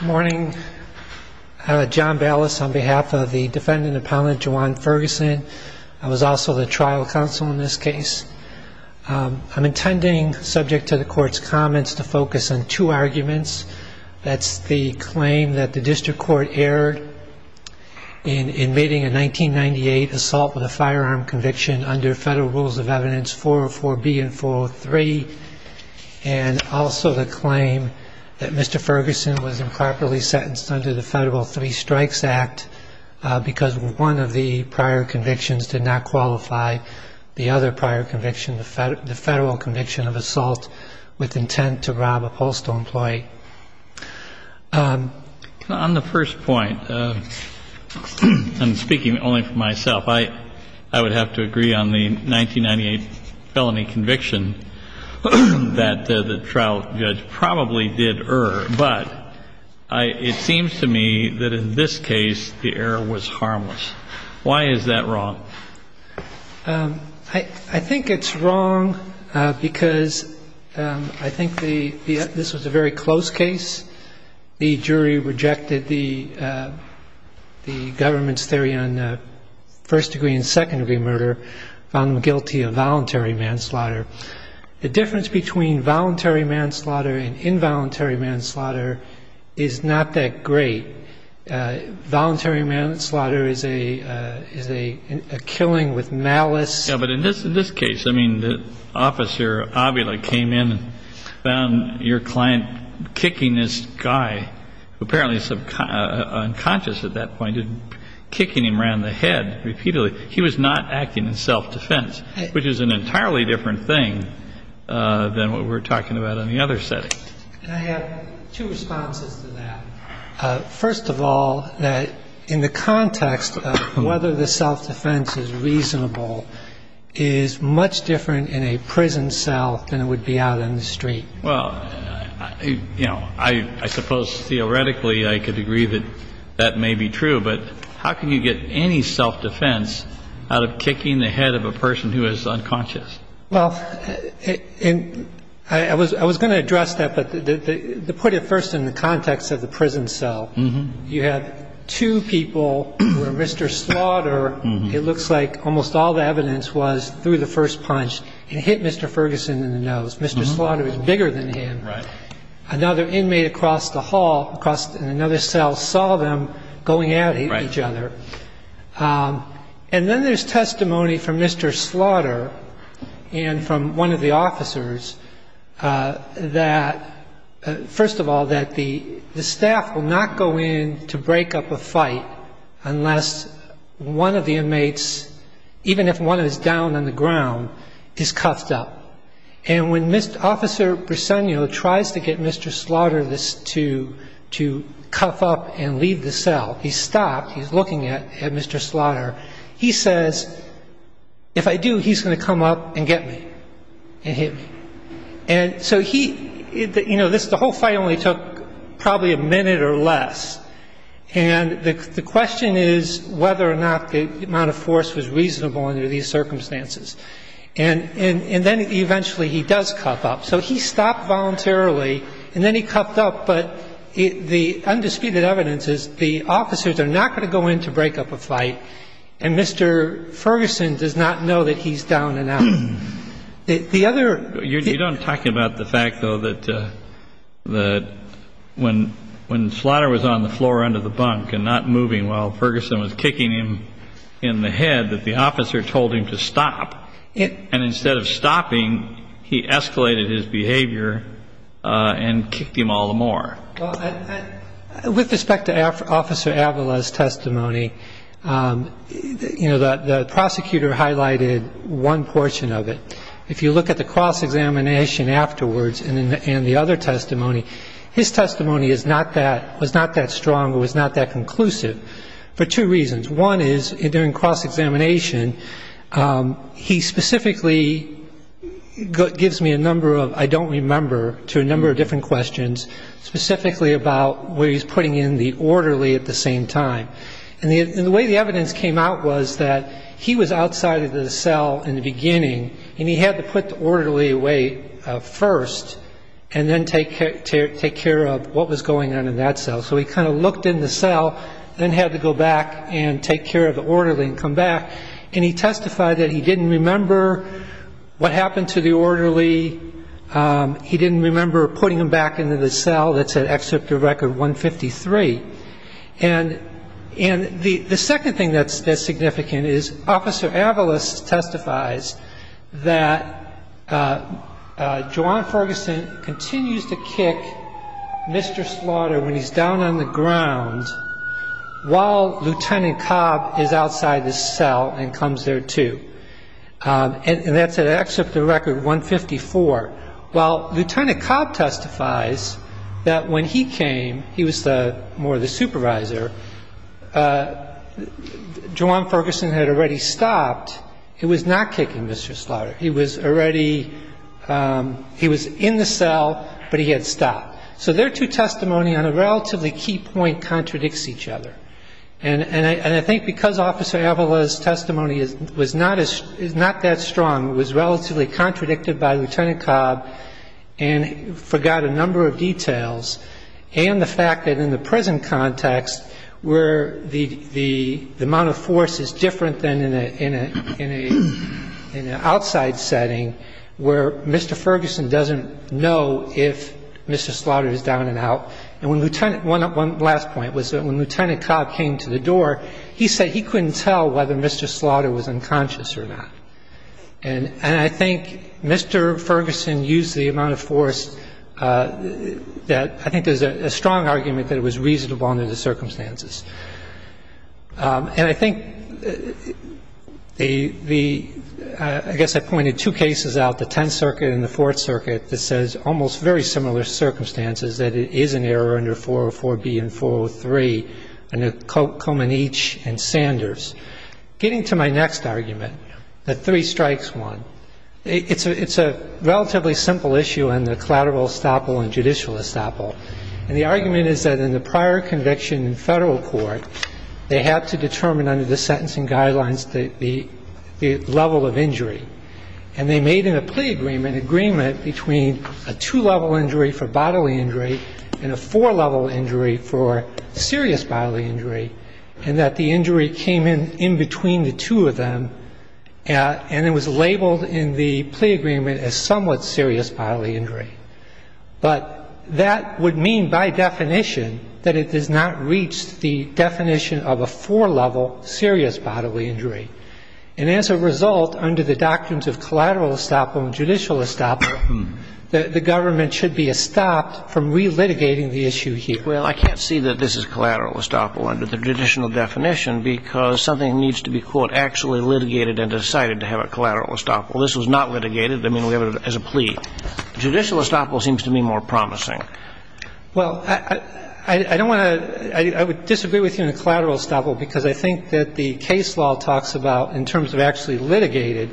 Good morning, John Ballas on behalf of the defendant appellant Juwan Ferguson. I was also the trial counsel in this case. I'm intending, subject to the court's comments, to focus on two arguments. That's the claim that the district court erred in invading a 1998 assault with a firearm conviction under federal rules of evidence 404B and 403, and also the claim that Mr. Ferguson was improperly sentenced under the Federal Three Strikes Act because one of the prior convictions did not qualify the other prior conviction, the federal conviction of assault with intent to rob a postal employee. Mr. Ferguson On the first point, I'm speaking only for myself, I would have to agree on the 1998 felony conviction that the trial judge probably did err, but it seems to me that in this case, the error was harmless. Why is that wrong? Mr. Laird I think it's wrong because I think this was a very close case. The jury rejected the government's theory on first degree and second degree murder, found them guilty of voluntary manslaughter. The difference between voluntary manslaughter and involuntary manslaughter is not that great. Voluntary manslaughter is a killing with malice. Mr. Ferguson Yeah, but in this case, the officer, Avila, came in and found your client kicking this guy, who apparently is unconscious at that point, kicking him around the head repeatedly. He was not acting in self-defense, which is an entirely different thing than what we're talking about in the other setting. Mr. Laird I have two responses to that. First of all, in the context of whether the self-defense is reasonable is much different in a prison cell than it would be out in the street. Well, you know, I suppose theoretically I could agree that that may be true. But how can you get any self-defense out of kicking the head of a person who is unconscious? Mr. Laird Well, I was going to address that, but to put it first in the context of the prison cell, you had two people where Mr. Slaughter, it looks like almost all the evidence was through the first punch and hit Mr. Ferguson in the nose. Mr. Slaughter is bigger than him. Another inmate across the hall, across another cell, saw them going at each other. And then there's testimony from Mr. Slaughter and from one of the officers that, first of all, that the staff will not go in to break up a fight unless one of the inmates, even if one is down on the ground, is cuffed up. And when Mr. Officer Briseno tries to get Mr. Slaughter to cuff up and leave the cell, he's stopped, he's looking at Mr. Slaughter. He says, if I do, he's going to come up and get me and hit me. And so he, you know, the whole fight only took probably a minute or less. And the question is whether or not the amount of force was reasonable under these circumstances. And then eventually he does cuff up. So he stopped voluntarily, and then he cuffed up. But the undisputed evidence is the officers are not going to go in to break up a fight, and Mr. Ferguson does not know that he's down and out. The other ---- You don't talk about the fact, though, that when Slaughter was on the floor under the floor, he was in the head, that the officer told him to stop. And instead of stopping, he escalated his behavior and kicked him all the more. With respect to Officer Avala's testimony, you know, the prosecutor highlighted one portion of it. If you look at the cross-examination afterwards and the other testimony, his testimony is not that ---- was not that strong, was not that conclusive, for two reasons. One is, during cross-examination, he specifically gives me a number of I don't remember to a number of different questions, specifically about where he's putting in the orderly at the same time. And the way the evidence came out was that he was outside of the cell in the beginning, and he had to put the orderly away first and then take care of what was going on in that cell. So he kind of looked in the cell, then had to go back and take care of the orderly and come back. And he testified that he didn't remember what happened to the orderly. He didn't remember putting him back into the cell that's at Excerptor Record 153. And the second thing that's significant is Officer Avala testifies that John Ferguson continues to kick Mr. Slaughter when he's down on the ground while Lieutenant Cobb is outside the cell and comes there, too. And that's at Excerptor Record 154. While Lieutenant Cobb testifies that when he came, he was more the supervisor, John Ferguson had already stopped, he was not kicking Mr. Slaughter. He was already he was in the cell, but he had stopped. So their two testimony on a relatively key point contradicts each other. And I think because Officer Avala's testimony is not that strong, it was relatively contradicted by Lieutenant Cobb and forgot a number of details, and the fact that in the prison context where the amount of force is different than in an outside setting where Mr. Ferguson doesn't know if Mr. Slaughter is down and out. And when Lieutenant one last point was that when Lieutenant Cobb came to the door, he said he couldn't tell whether Mr. Slaughter was unconscious or not. And I think Mr. Ferguson used the amount of force that I think there's a strong argument that it was reasonable under the circumstances. And I think the I guess I pointed two cases out, the Tenth Circuit and the Fourth Circuit, that says almost very similar circumstances, that it is an error under 404B and 403, under Komenich and Sanders. Getting to my next argument, the three strikes one, it's a relatively simple issue on the collateral estoppel and judicial estoppel. And the argument is that the prior conviction in federal court, they had to determine under the sentencing guidelines the level of injury. And they made in a plea agreement an agreement between a two-level injury for bodily injury and a four-level injury for serious bodily injury, and that the injury came in in between the two of them, and it was labeled in the plea agreement as somewhat serious bodily injury. But that would mean by definition that it does not reach the definition of a four-level serious bodily injury. And as a result, under the doctrines of collateral estoppel and judicial estoppel, the government should be estopped from relitigating the issue here. Well, I can't see that this is collateral estoppel under the judicial definition because something needs to be, quote, actually litigated and decided to have a collateral estoppel. This was not litigated. I mean, we have it as a plea. Judicial estoppel seems to me more promising. Well, I don't want to – I would disagree with you on the collateral estoppel because I think that the case law talks about in terms of actually litigated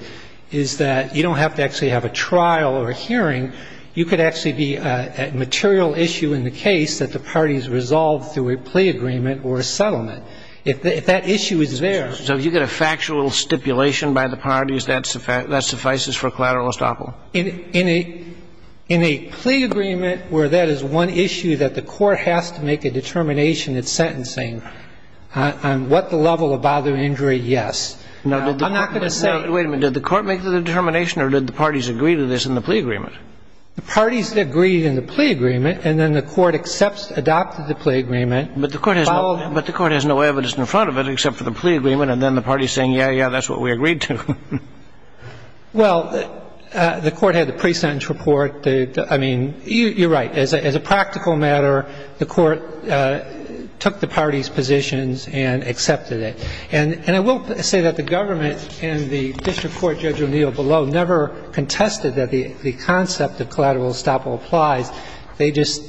is that you don't have to actually have a trial or a hearing. You could actually be a material issue in the case that the parties resolve through a plea agreement or a settlement. If that issue is there. So if you get a factual stipulation by the parties, that suffices for collateral estoppel. In a plea agreement where that is one issue that the court has to make a determination at sentencing on what the level of bodily injury, yes. I'm not going to say – Wait a minute. Did the court make the determination or did the parties agree to this in the plea agreement? The parties agreed in the plea agreement and then the court accepts, adopted the plea agreement. But the court has no evidence in front of it except for the plea agreement and then the parties saying, yeah, yeah, that's what we agreed to. Well, the court had the pre-sentence report. I mean, you're right. As a practical matter, the court took the parties' positions and accepted it. And I will say that the government and the district court Judge O'Neill below never contested that the concept of collateral estoppel applies. They just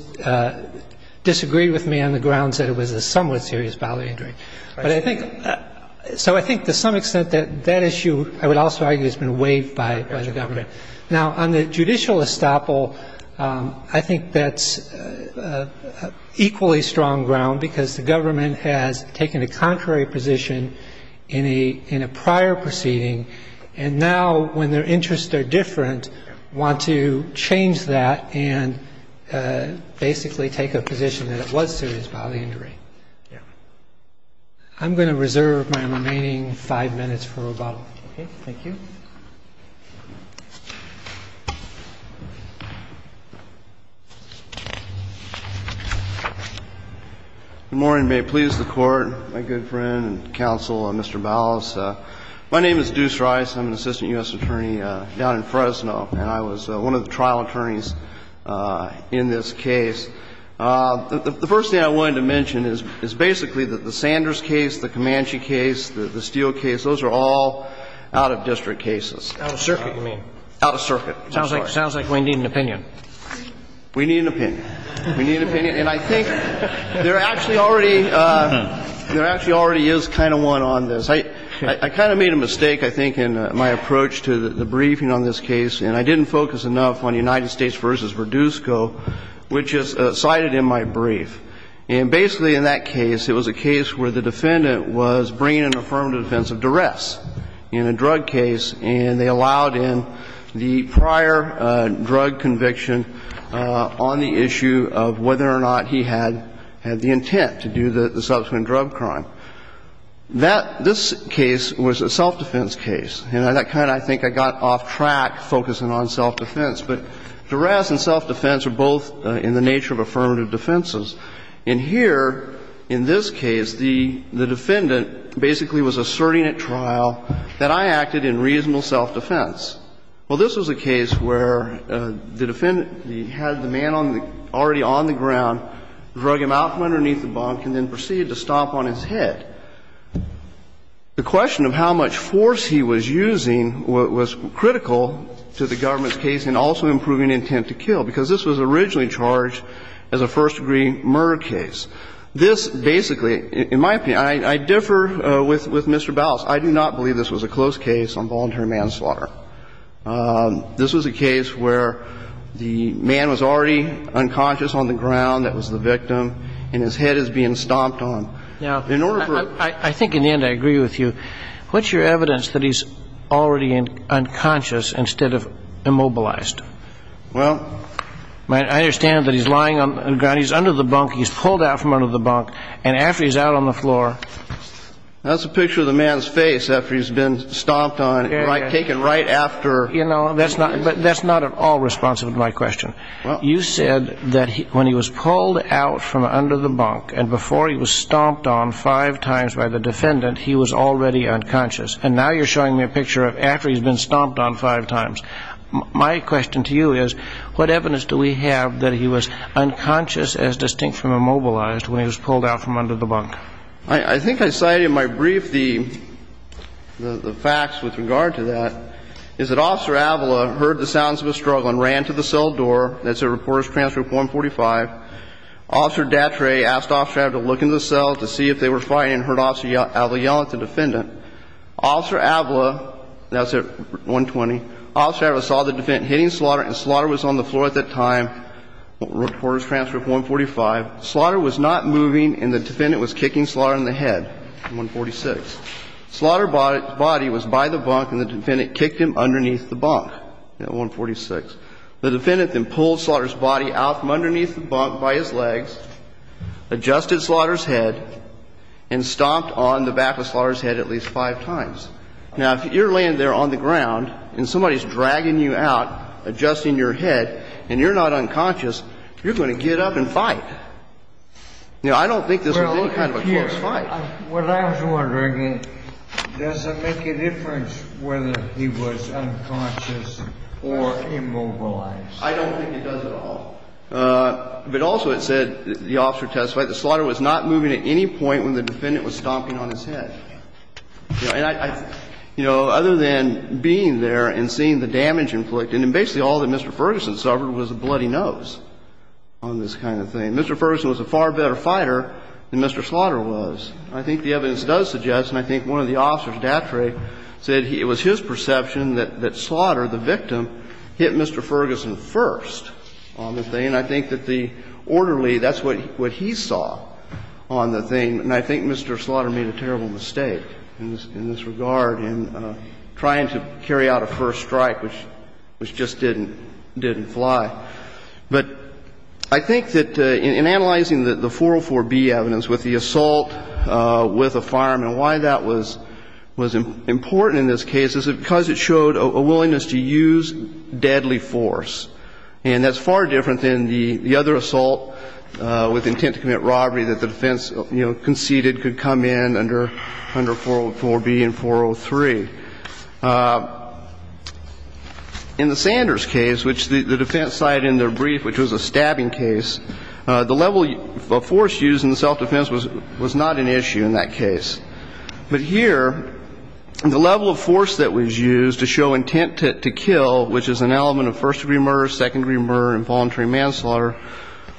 disagreed with me on the grounds that it was a somewhat serious bodily injury. But I think – so I think to some extent that that issue, I would also argue, has been waived by the government. Now, on the judicial estoppel, I think that's equally strong ground because the government has taken a contrary position in a prior proceeding, and now when their interests are different, want to change that and basically take a position that it was serious bodily injury. I'm going to reserve my remaining five minutes for rebuttal. Okay? Thank you. Good morning. May it please the Court, my good friend and counsel, Mr. Ballas. My name is Deuce Rice. I'm an assistant U.S. attorney down in Fresno, and I was one of the trial attorneys in this case. The first thing I wanted to mention is basically that the Sanders case, the Comanche case, the Steele case, those are all out-of-district cases. Out-of-circuit, you mean? Out-of-circuit. Sounds like we need an opinion. We need an opinion. We need an opinion. And I think there actually already – there actually already is kind of one on this. I kind of made a mistake, I think, in my approach to the briefing on this case, and I didn't focus enough on United States v. Verdusco, which is cited in my brief. And basically in that case, it was a case where the defendant was bringing an affirmative defense of duress in a drug case, and they allowed in the prior drug conviction on the issue of whether or not he had the intent to do the subsequent drug crime. That – this case was a self-defense case, and that kind of, I think, I got off track focusing on self-defense. But duress and self-defense are both in the nature of affirmative defenses. And here, in this case, the defendant basically was asserting at trial that I acted in reasonable self-defense. Well, this was a case where the defendant had the man on the – already on the ground, drug him out from underneath the bunk, and then proceeded to stomp on his head. The question of how much force he was using was critical to the government's case and also improving intent to kill, because this was originally charged as a first-degree murder case. This basically – in my opinion, I differ with Mr. Ballas. I do not believe this was a close case on voluntary manslaughter. This was a case where the man was already unconscious on the ground, that was the victim, and his head is being stomped on. Now, I think, in the end, I agree with you. What's your evidence that he's already unconscious instead of immobilized? Well, my – I understand that he's lying on the ground. He's under the bunk. He's pulled out from under the bunk. And after he's out on the floor – That's a picture of the man's face after he's been stomped on – Yeah, yeah. Taken right after – You know, that's not – but that's not at all responsive to my question. Well – You said that when he was pulled out from under the bunk and before he was stomped on five times by the defendant, he was already unconscious. And now you're showing me a picture of after he's been stomped on five times. My question to you is, what evidence do we have that he was unconscious as distinct from immobilized when he was pulled out from under the bunk? I think I cited in my brief the facts with regard to that, is that Officer Avila heard the sounds of a struggle and ran to the cell door. That's at Reporters Transfer 145. Officer Datre asked Officer Avila to look in the cell to see if they were fighting and heard Officer Avila yell at the defendant. Officer Avila – that's at 120 – Officer Avila saw the defendant hitting Slaughter and Slaughter was on the floor at that time, Reporters Transfer 145. Slaughter was not moving and the defendant was kicking Slaughter in the head at 146. Slaughter's body was by the bunk and the defendant kicked him underneath the bunk at 146. The defendant then pulled Slaughter's body out from underneath the bunk by his legs, adjusted Slaughter's head and stomped on the back of Slaughter's head at least five times. Now, if you're laying there on the ground and somebody's dragging you out, adjusting your head, and you're not unconscious, you're going to get up and fight. Now, I don't think this was any kind of a close fight. Well, I was wondering, does it make a difference whether he was unconscious or immobilized? I don't think it does at all. But also, it said the officer testified that Slaughter was not moving at any point when the defendant was stomping on his head. You know, other than being there and seeing the damage inflicted, and basically all that Mr. Ferguson suffered was a bloody nose on this kind of thing. Mr. Ferguson was a far better fighter than Mr. Slaughter was. I think the evidence does suggest, and I think one of the officers, Datre, said it was his perception that Slaughter, the victim, hit Mr. Ferguson first on the thing. And I think that the orderly, that's what he saw on the thing, and I think Mr. Slaughter made a terrible mistake in this regard in trying to carry out a first strike, which just didn't fly. But I think that in analyzing the 404B evidence with the assault with a fireman, why that was important in this case is because it showed a willingness to use deadly force. And that's far different than the other assault with intent to commit robbery that the defense conceded could come in under 404B and 403. In the Sanders case, which the defense cited in their brief, which was a stabbing case, the level of force used in the self-defense was not an issue in that case. But here, the level of force that was used to show intent to kill, which is an element of first-degree murder, second-degree murder, involuntary manslaughter,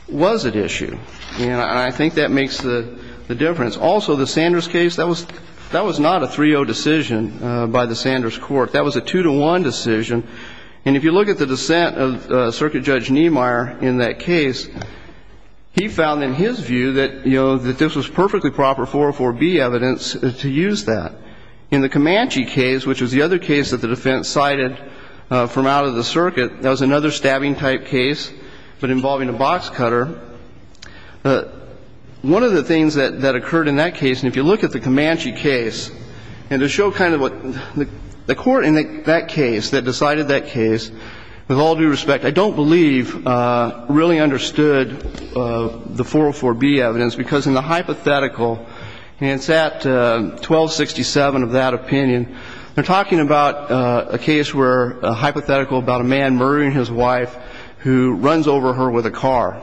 was at issue. And I think that makes the difference. Also, the Sanders case, that was not a 3-0 decision. By the Sanders court, that was a 2-1 decision. And if you look at the dissent of Circuit Judge Niemeyer in that case, he found in his view that this was perfectly proper 404B evidence to use that. In the Comanche case, which was the other case that the defense cited from out of the circuit, that was another stabbing-type case, but involving a box cutter. One of the things that occurred in that case, and if you look at the Comanche case, and to show kind of what the court in that case, that decided that case, with all due respect, I don't believe really understood the 404B evidence because in the hypothetical, and it's at 1267 of that opinion, they're talking about a case where a hypothetical about a man murdering his wife who runs over her with a car.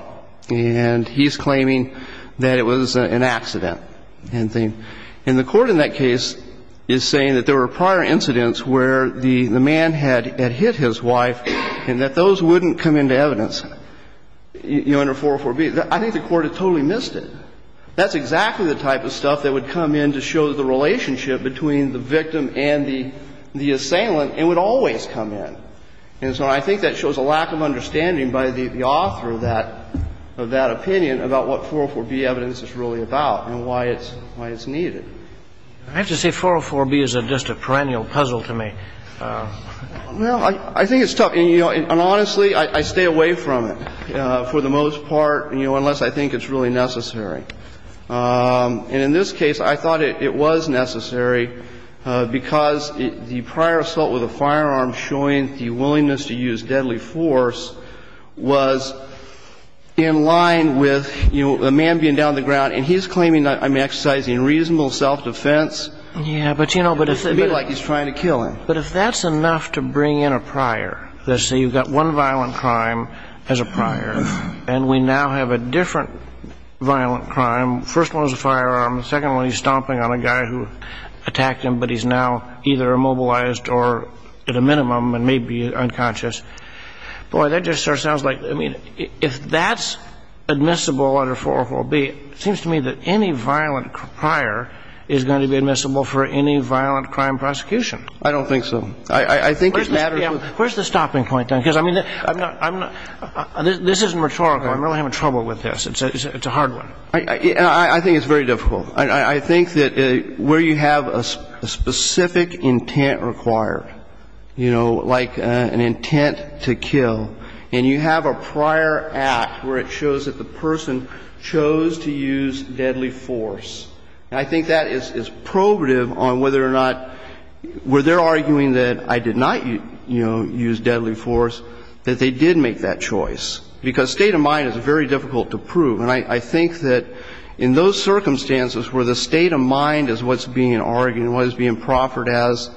And he's claiming that it was an accident. And the court in that case is saying that there were prior incidents where the man had hit his wife and that those wouldn't come into evidence under 404B. I think the court had totally missed it. That's exactly the type of stuff that would come in to show the relationship between the victim and the assailant, and would always come in. And so I think that shows a lack of understanding by the author of that opinion about what 404B evidence is really about and why it's needed. I have to say 404B is just a perennial puzzle to me. Well, I think it's tough. And honestly, I stay away from it for the most part unless I think it's really necessary. And in this case, I thought it was necessary because the prior assault with a firearm showing the willingness to use deadly force was in line with, you know, the man being down on the ground. And he's claiming that I'm exercising reasonable self-defense. Yeah, but, you know, but if it's a bit like he's trying to kill him. But if that's enough to bring in a prior, let's say you've got one violent crime as a prior, and we now have a different violent crime, first one was a firearm, the second one he's stomping on a guy who attacked him, but he's now either immobilized or at a minimum and maybe unconscious. Boy, that just sort of sounds like, I mean, if that's admissible under 404B, it seems to me that any violent prior is going to be admissible for any violent crime prosecution. I don't think so. I think it matters. Where's the stopping point then? Because, I mean, this isn't rhetorical. I'm really having trouble with this. It's a hard one. I think it's very difficult. I think that where you have a specific intent required, you know, like an intent to kill, and you have a prior act where it shows that the person chose to use deadly force, I think that is probative on whether or not where they're arguing that I did not, you know, use deadly force, that they did make that choice. Because state of mind is very difficult to prove. And I think that in those circumstances where the state of mind is what's being argued and what is being proffered as,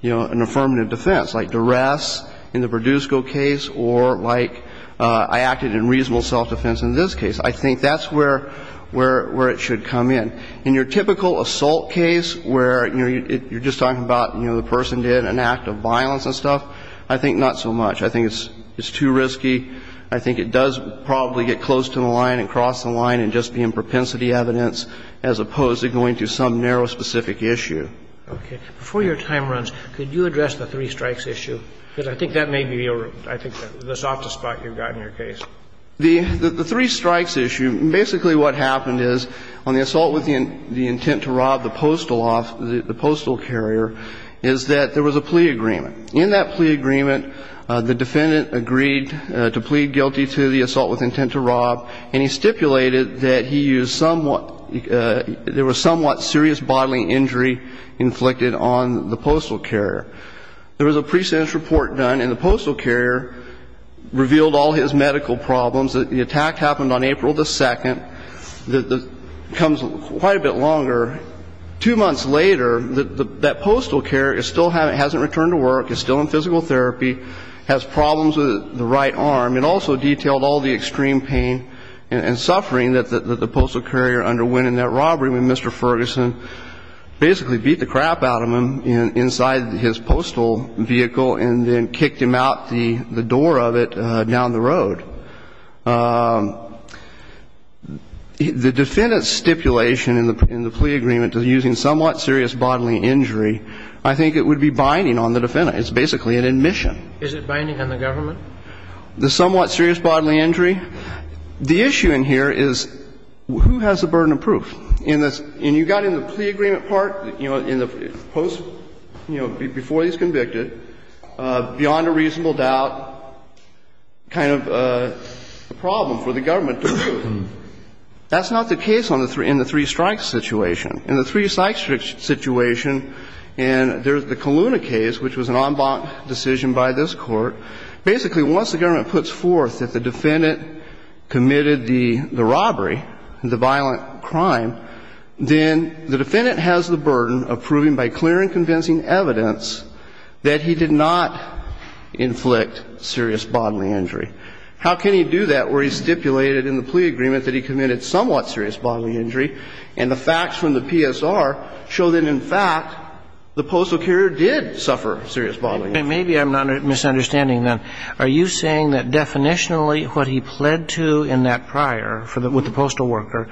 you know, an affirmative defense, like duress in the Produsco case or like I acted in reasonable self-defense in this case, I think that's where it should come in. In your typical assault case where, you know, you're just talking about, you know, the person did an act of violence and stuff, I think not so much. I think it's too risky. I think it does probably get close to the line and cross the line and just be in propensity evidence as opposed to going to some narrow specific issue. Okay. Before your time runs, could you address the three strikes issue? Because I think that may be the softest spot you've got in your case. The three strikes issue, basically what happened is on the assault with the intent to rob the postal carrier is that there was a plea agreement. In that plea agreement, the defendant agreed to plead guilty to the assault with intent to rob and he stipulated that he used somewhat, there was somewhat serious bodily injury inflicted on the postal carrier. There was a pre-sentence report done and the postal carrier revealed all his medical problems. The attack happened on April the 2nd. It comes quite a bit longer. Two months later, that postal carrier still hasn't returned to work, is still in physical therapy, has problems with the right arm. It also detailed all the extreme pain and suffering that the postal carrier underwent in that robbery when Mr. Ferguson basically beat the crap out of him inside his postal vehicle and then kicked him out the door of it down the road. The defendant's stipulation in the plea agreement to using somewhat serious bodily injury, I think it would be binding on the defendant. It's basically an admission. Is it binding on the government? The somewhat serious bodily injury? The issue in here is who has the burden of proof? And you've got in the plea agreement part, you know, in the post, you know, before he's convicted, beyond a reasonable doubt, kind of a problem for the government to prove. That's not the case in the three-strike situation. In the three-strike situation in the Coluna case, which was an en banc decision by this court, basically once the government puts forth that the defendant committed the robbery, the violent crime, then the defendant has the burden of proving by clear and convincing evidence that he did not inflict serious bodily injury. How can he do that where he stipulated in the plea agreement that he committed somewhat serious bodily injury and the facts from the PSR show that, in fact, the postal carrier did suffer serious bodily injury? Maybe I'm misunderstanding then. Are you saying that definitionally what he pled to in that prior with the postal worker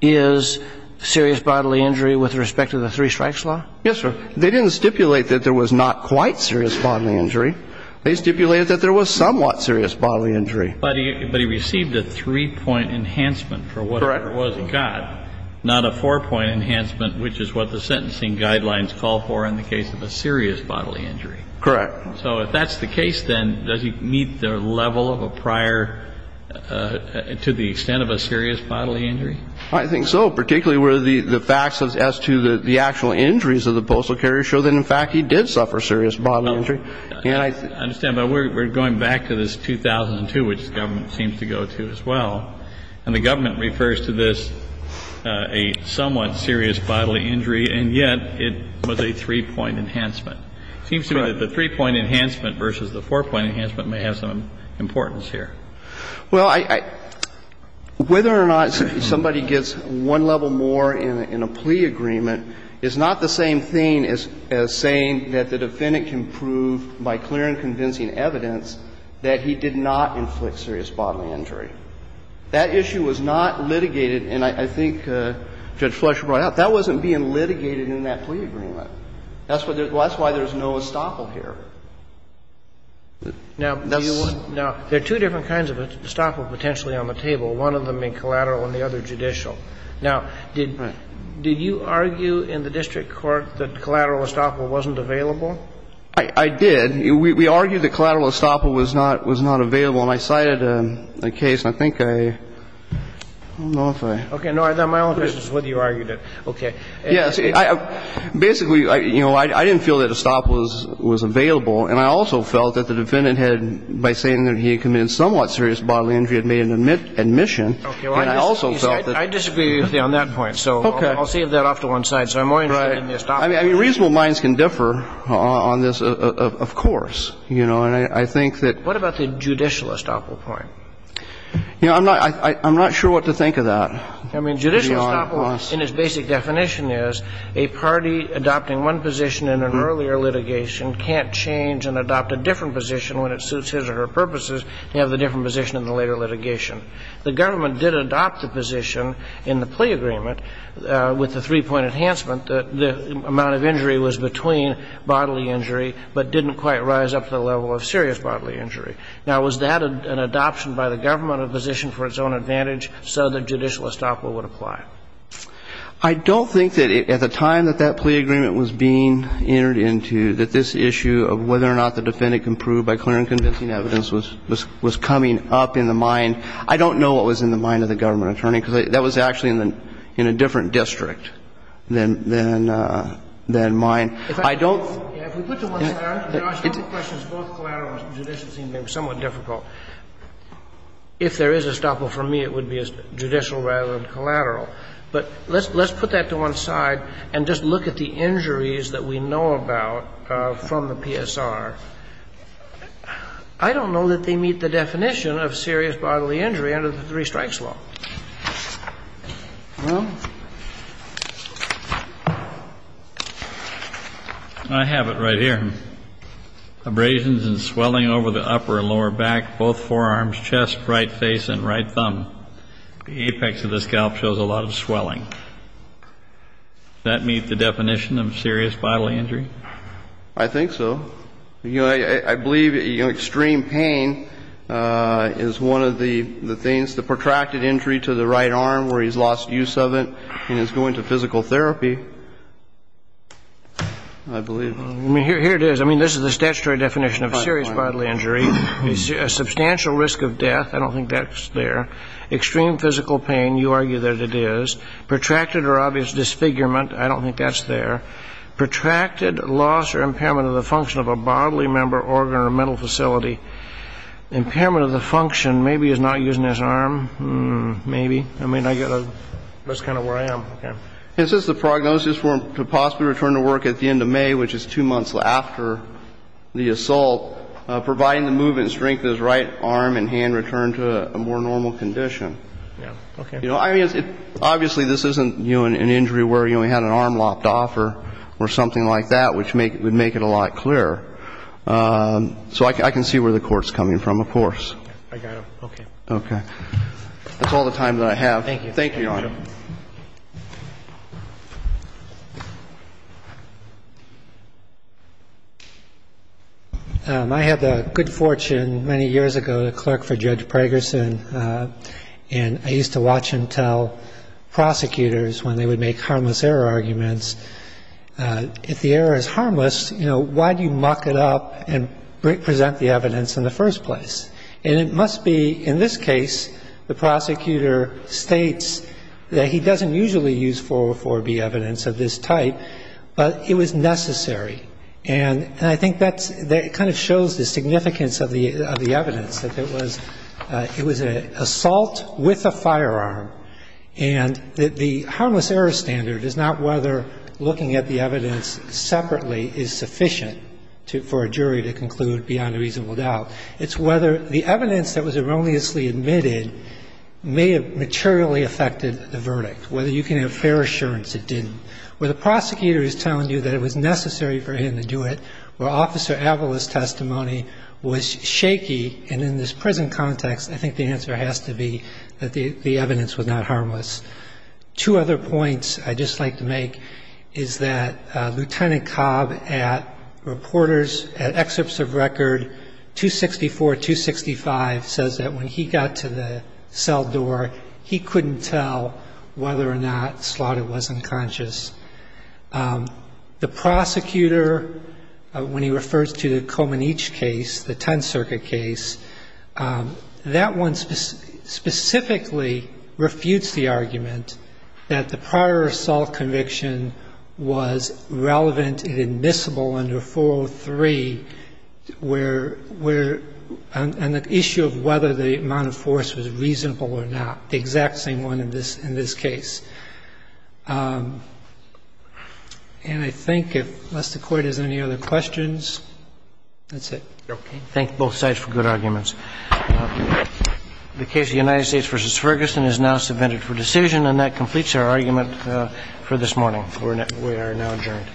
is serious bodily injury with respect to the three-strikes law? Yes, sir. They didn't stipulate that there was not quite serious bodily injury. They stipulated that there was somewhat serious bodily injury. But he received a three-point enhancement for whatever it was he got, not a four-point enhancement, which is what the sentencing guidelines call for in the case of a serious bodily injury. Correct. So if that's the case, then does he meet the level of a prior to the extent of a serious bodily injury? I think so, particularly where the facts as to the actual injuries of the postal carrier show that, in fact, he did suffer serious bodily injury. I understand. But we're going back to this 2002, which the government seems to go to as well. And the government refers to this a somewhat serious bodily injury, and yet it was a three-point enhancement. It seems to me that the three-point enhancement versus the four-point enhancement may have some importance here. Well, whether or not somebody gets one level more in a plea agreement is not the same thing as saying that the defendant can prove by clear and convincing evidence that he did not inflict serious bodily injury. That issue was not litigated, and I think Judge Fletcher brought it up. That wasn't being litigated in that plea agreement. That's why there's no estoppel here. Now, there are two different kinds of estoppel potentially on the table, one of them in collateral and the other judicial. Now, did you argue in the district court that collateral estoppel wasn't available? I did. We argued that collateral estoppel was not available, and I cited a case, and I think I don't know if I ---- Okay. My only question is whether you argued it. Okay. Yes. Basically, you know, I didn't feel that estoppel was available, and I also felt that the defendant had, by saying that he had committed somewhat serious bodily injury, had made an admission, and I also felt that ---- Okay. I disagree with you on that point. Okay. So I'll save that off to one side. So I'm more interested in the estoppel. Right. I mean, reasonable minds can differ on this, of course. You know, and I think that ---- What about the judicial estoppel point? You know, I'm not sure what to think of that. I mean, judicial estoppel in its basic definition is a party adopting one position in an earlier litigation can't change and adopt a different position when it suits his or her purposes to have the different position in the later litigation. The government did adopt the position in the plea agreement with the three-point enhancement that the amount of injury was between bodily injury but didn't quite rise up to the level of serious bodily injury. Now, was that an adoption by the government, a position for its own advantage, so that judicial estoppel would apply? I don't think that at the time that that plea agreement was being entered into, that this issue of whether or not the defendant can prove by clear and convincing evidence was coming up in the mind. I don't know what was in the mind of the government attorney, because that was actually in a different district than mine. I don't ---- If we put it to one side, there are a couple of questions. Both collateral and judicial seem to be somewhat difficult. But let's put that to one side and just look at the injuries that we know about from the PSR. I don't know that they meet the definition of serious bodily injury under the three-strikes law. I have it right here. Abrasions and swelling over the upper and lower back, both forearms, chest, right face, and right thumb. The apex of the scalp shows a lot of swelling. Does that meet the definition of serious bodily injury? I think so. I believe extreme pain is one of the things, the protracted injury to the right arm where he's lost use of it and is going to physical therapy, I believe. Here it is. I mean, this is the statutory definition of serious bodily injury. Substantial risk of death. I don't think that's there. Extreme physical pain. You argue that it is. Protracted or obvious disfigurement. I don't think that's there. Protracted loss or impairment of the function of a bodily member, organ, or mental facility. Impairment of the function. Maybe he's not using his arm. Hmm. Maybe. I mean, I get a ---- That's kind of where I am. Okay. This is the prognosis for him to possibly return to work at the end of May, which is providing the movement strength of his right arm and hand returned to a more normal condition. Yeah. Okay. I mean, obviously this isn't, you know, an injury where he only had an arm lopped off or something like that, which would make it a lot clearer. So I can see where the court's coming from, of course. I got it. Okay. That's all the time that I have. Thank you. Thank you, Your Honor. I had the good fortune many years ago to clerk for Judge Pragerson, and I used to watch him tell prosecutors when they would make harmless error arguments, if the error is harmless, you know, why do you muck it up and present the evidence in the first place? And it must be, in this case, the prosecutor states, well, you know, I'm going to argue that he doesn't usually use 404B evidence of this type, but it was necessary. And I think that kind of shows the significance of the evidence, that it was an assault with a firearm, and the harmless error standard is not whether looking at the evidence separately is sufficient for a jury to conclude beyond a reasonable doubt. It's whether the evidence that was erroneously admitted may have materially affected the verdict, whether you can have fair assurance it didn't, where the prosecutor is telling you that it was necessary for him to do it, where Officer Avala's testimony was shaky, and in this prison context, I think the answer has to be that the evidence was not harmless. Two other points I'd just like to make is that Lieutenant Cobb at reporters at Excerpts of Record 264, 265 says that when he got to the cell door, he couldn't tell whether or not Slaughter was unconscious. The prosecutor, when he refers to the Comaneci case, the Tenth Circuit case, that one specifically refutes the argument that the prior assault conviction was relevant and admissible under 403, where, and the issue of whether the amount of force was reasonable or not. That's not the exact same one in this case. And I think, unless the Court has any other questions, that's it. Thank you both sides for good arguments. The case of the United States v. Ferguson is now submitted for decision, and that completes our argument for this morning. We are now adjourned.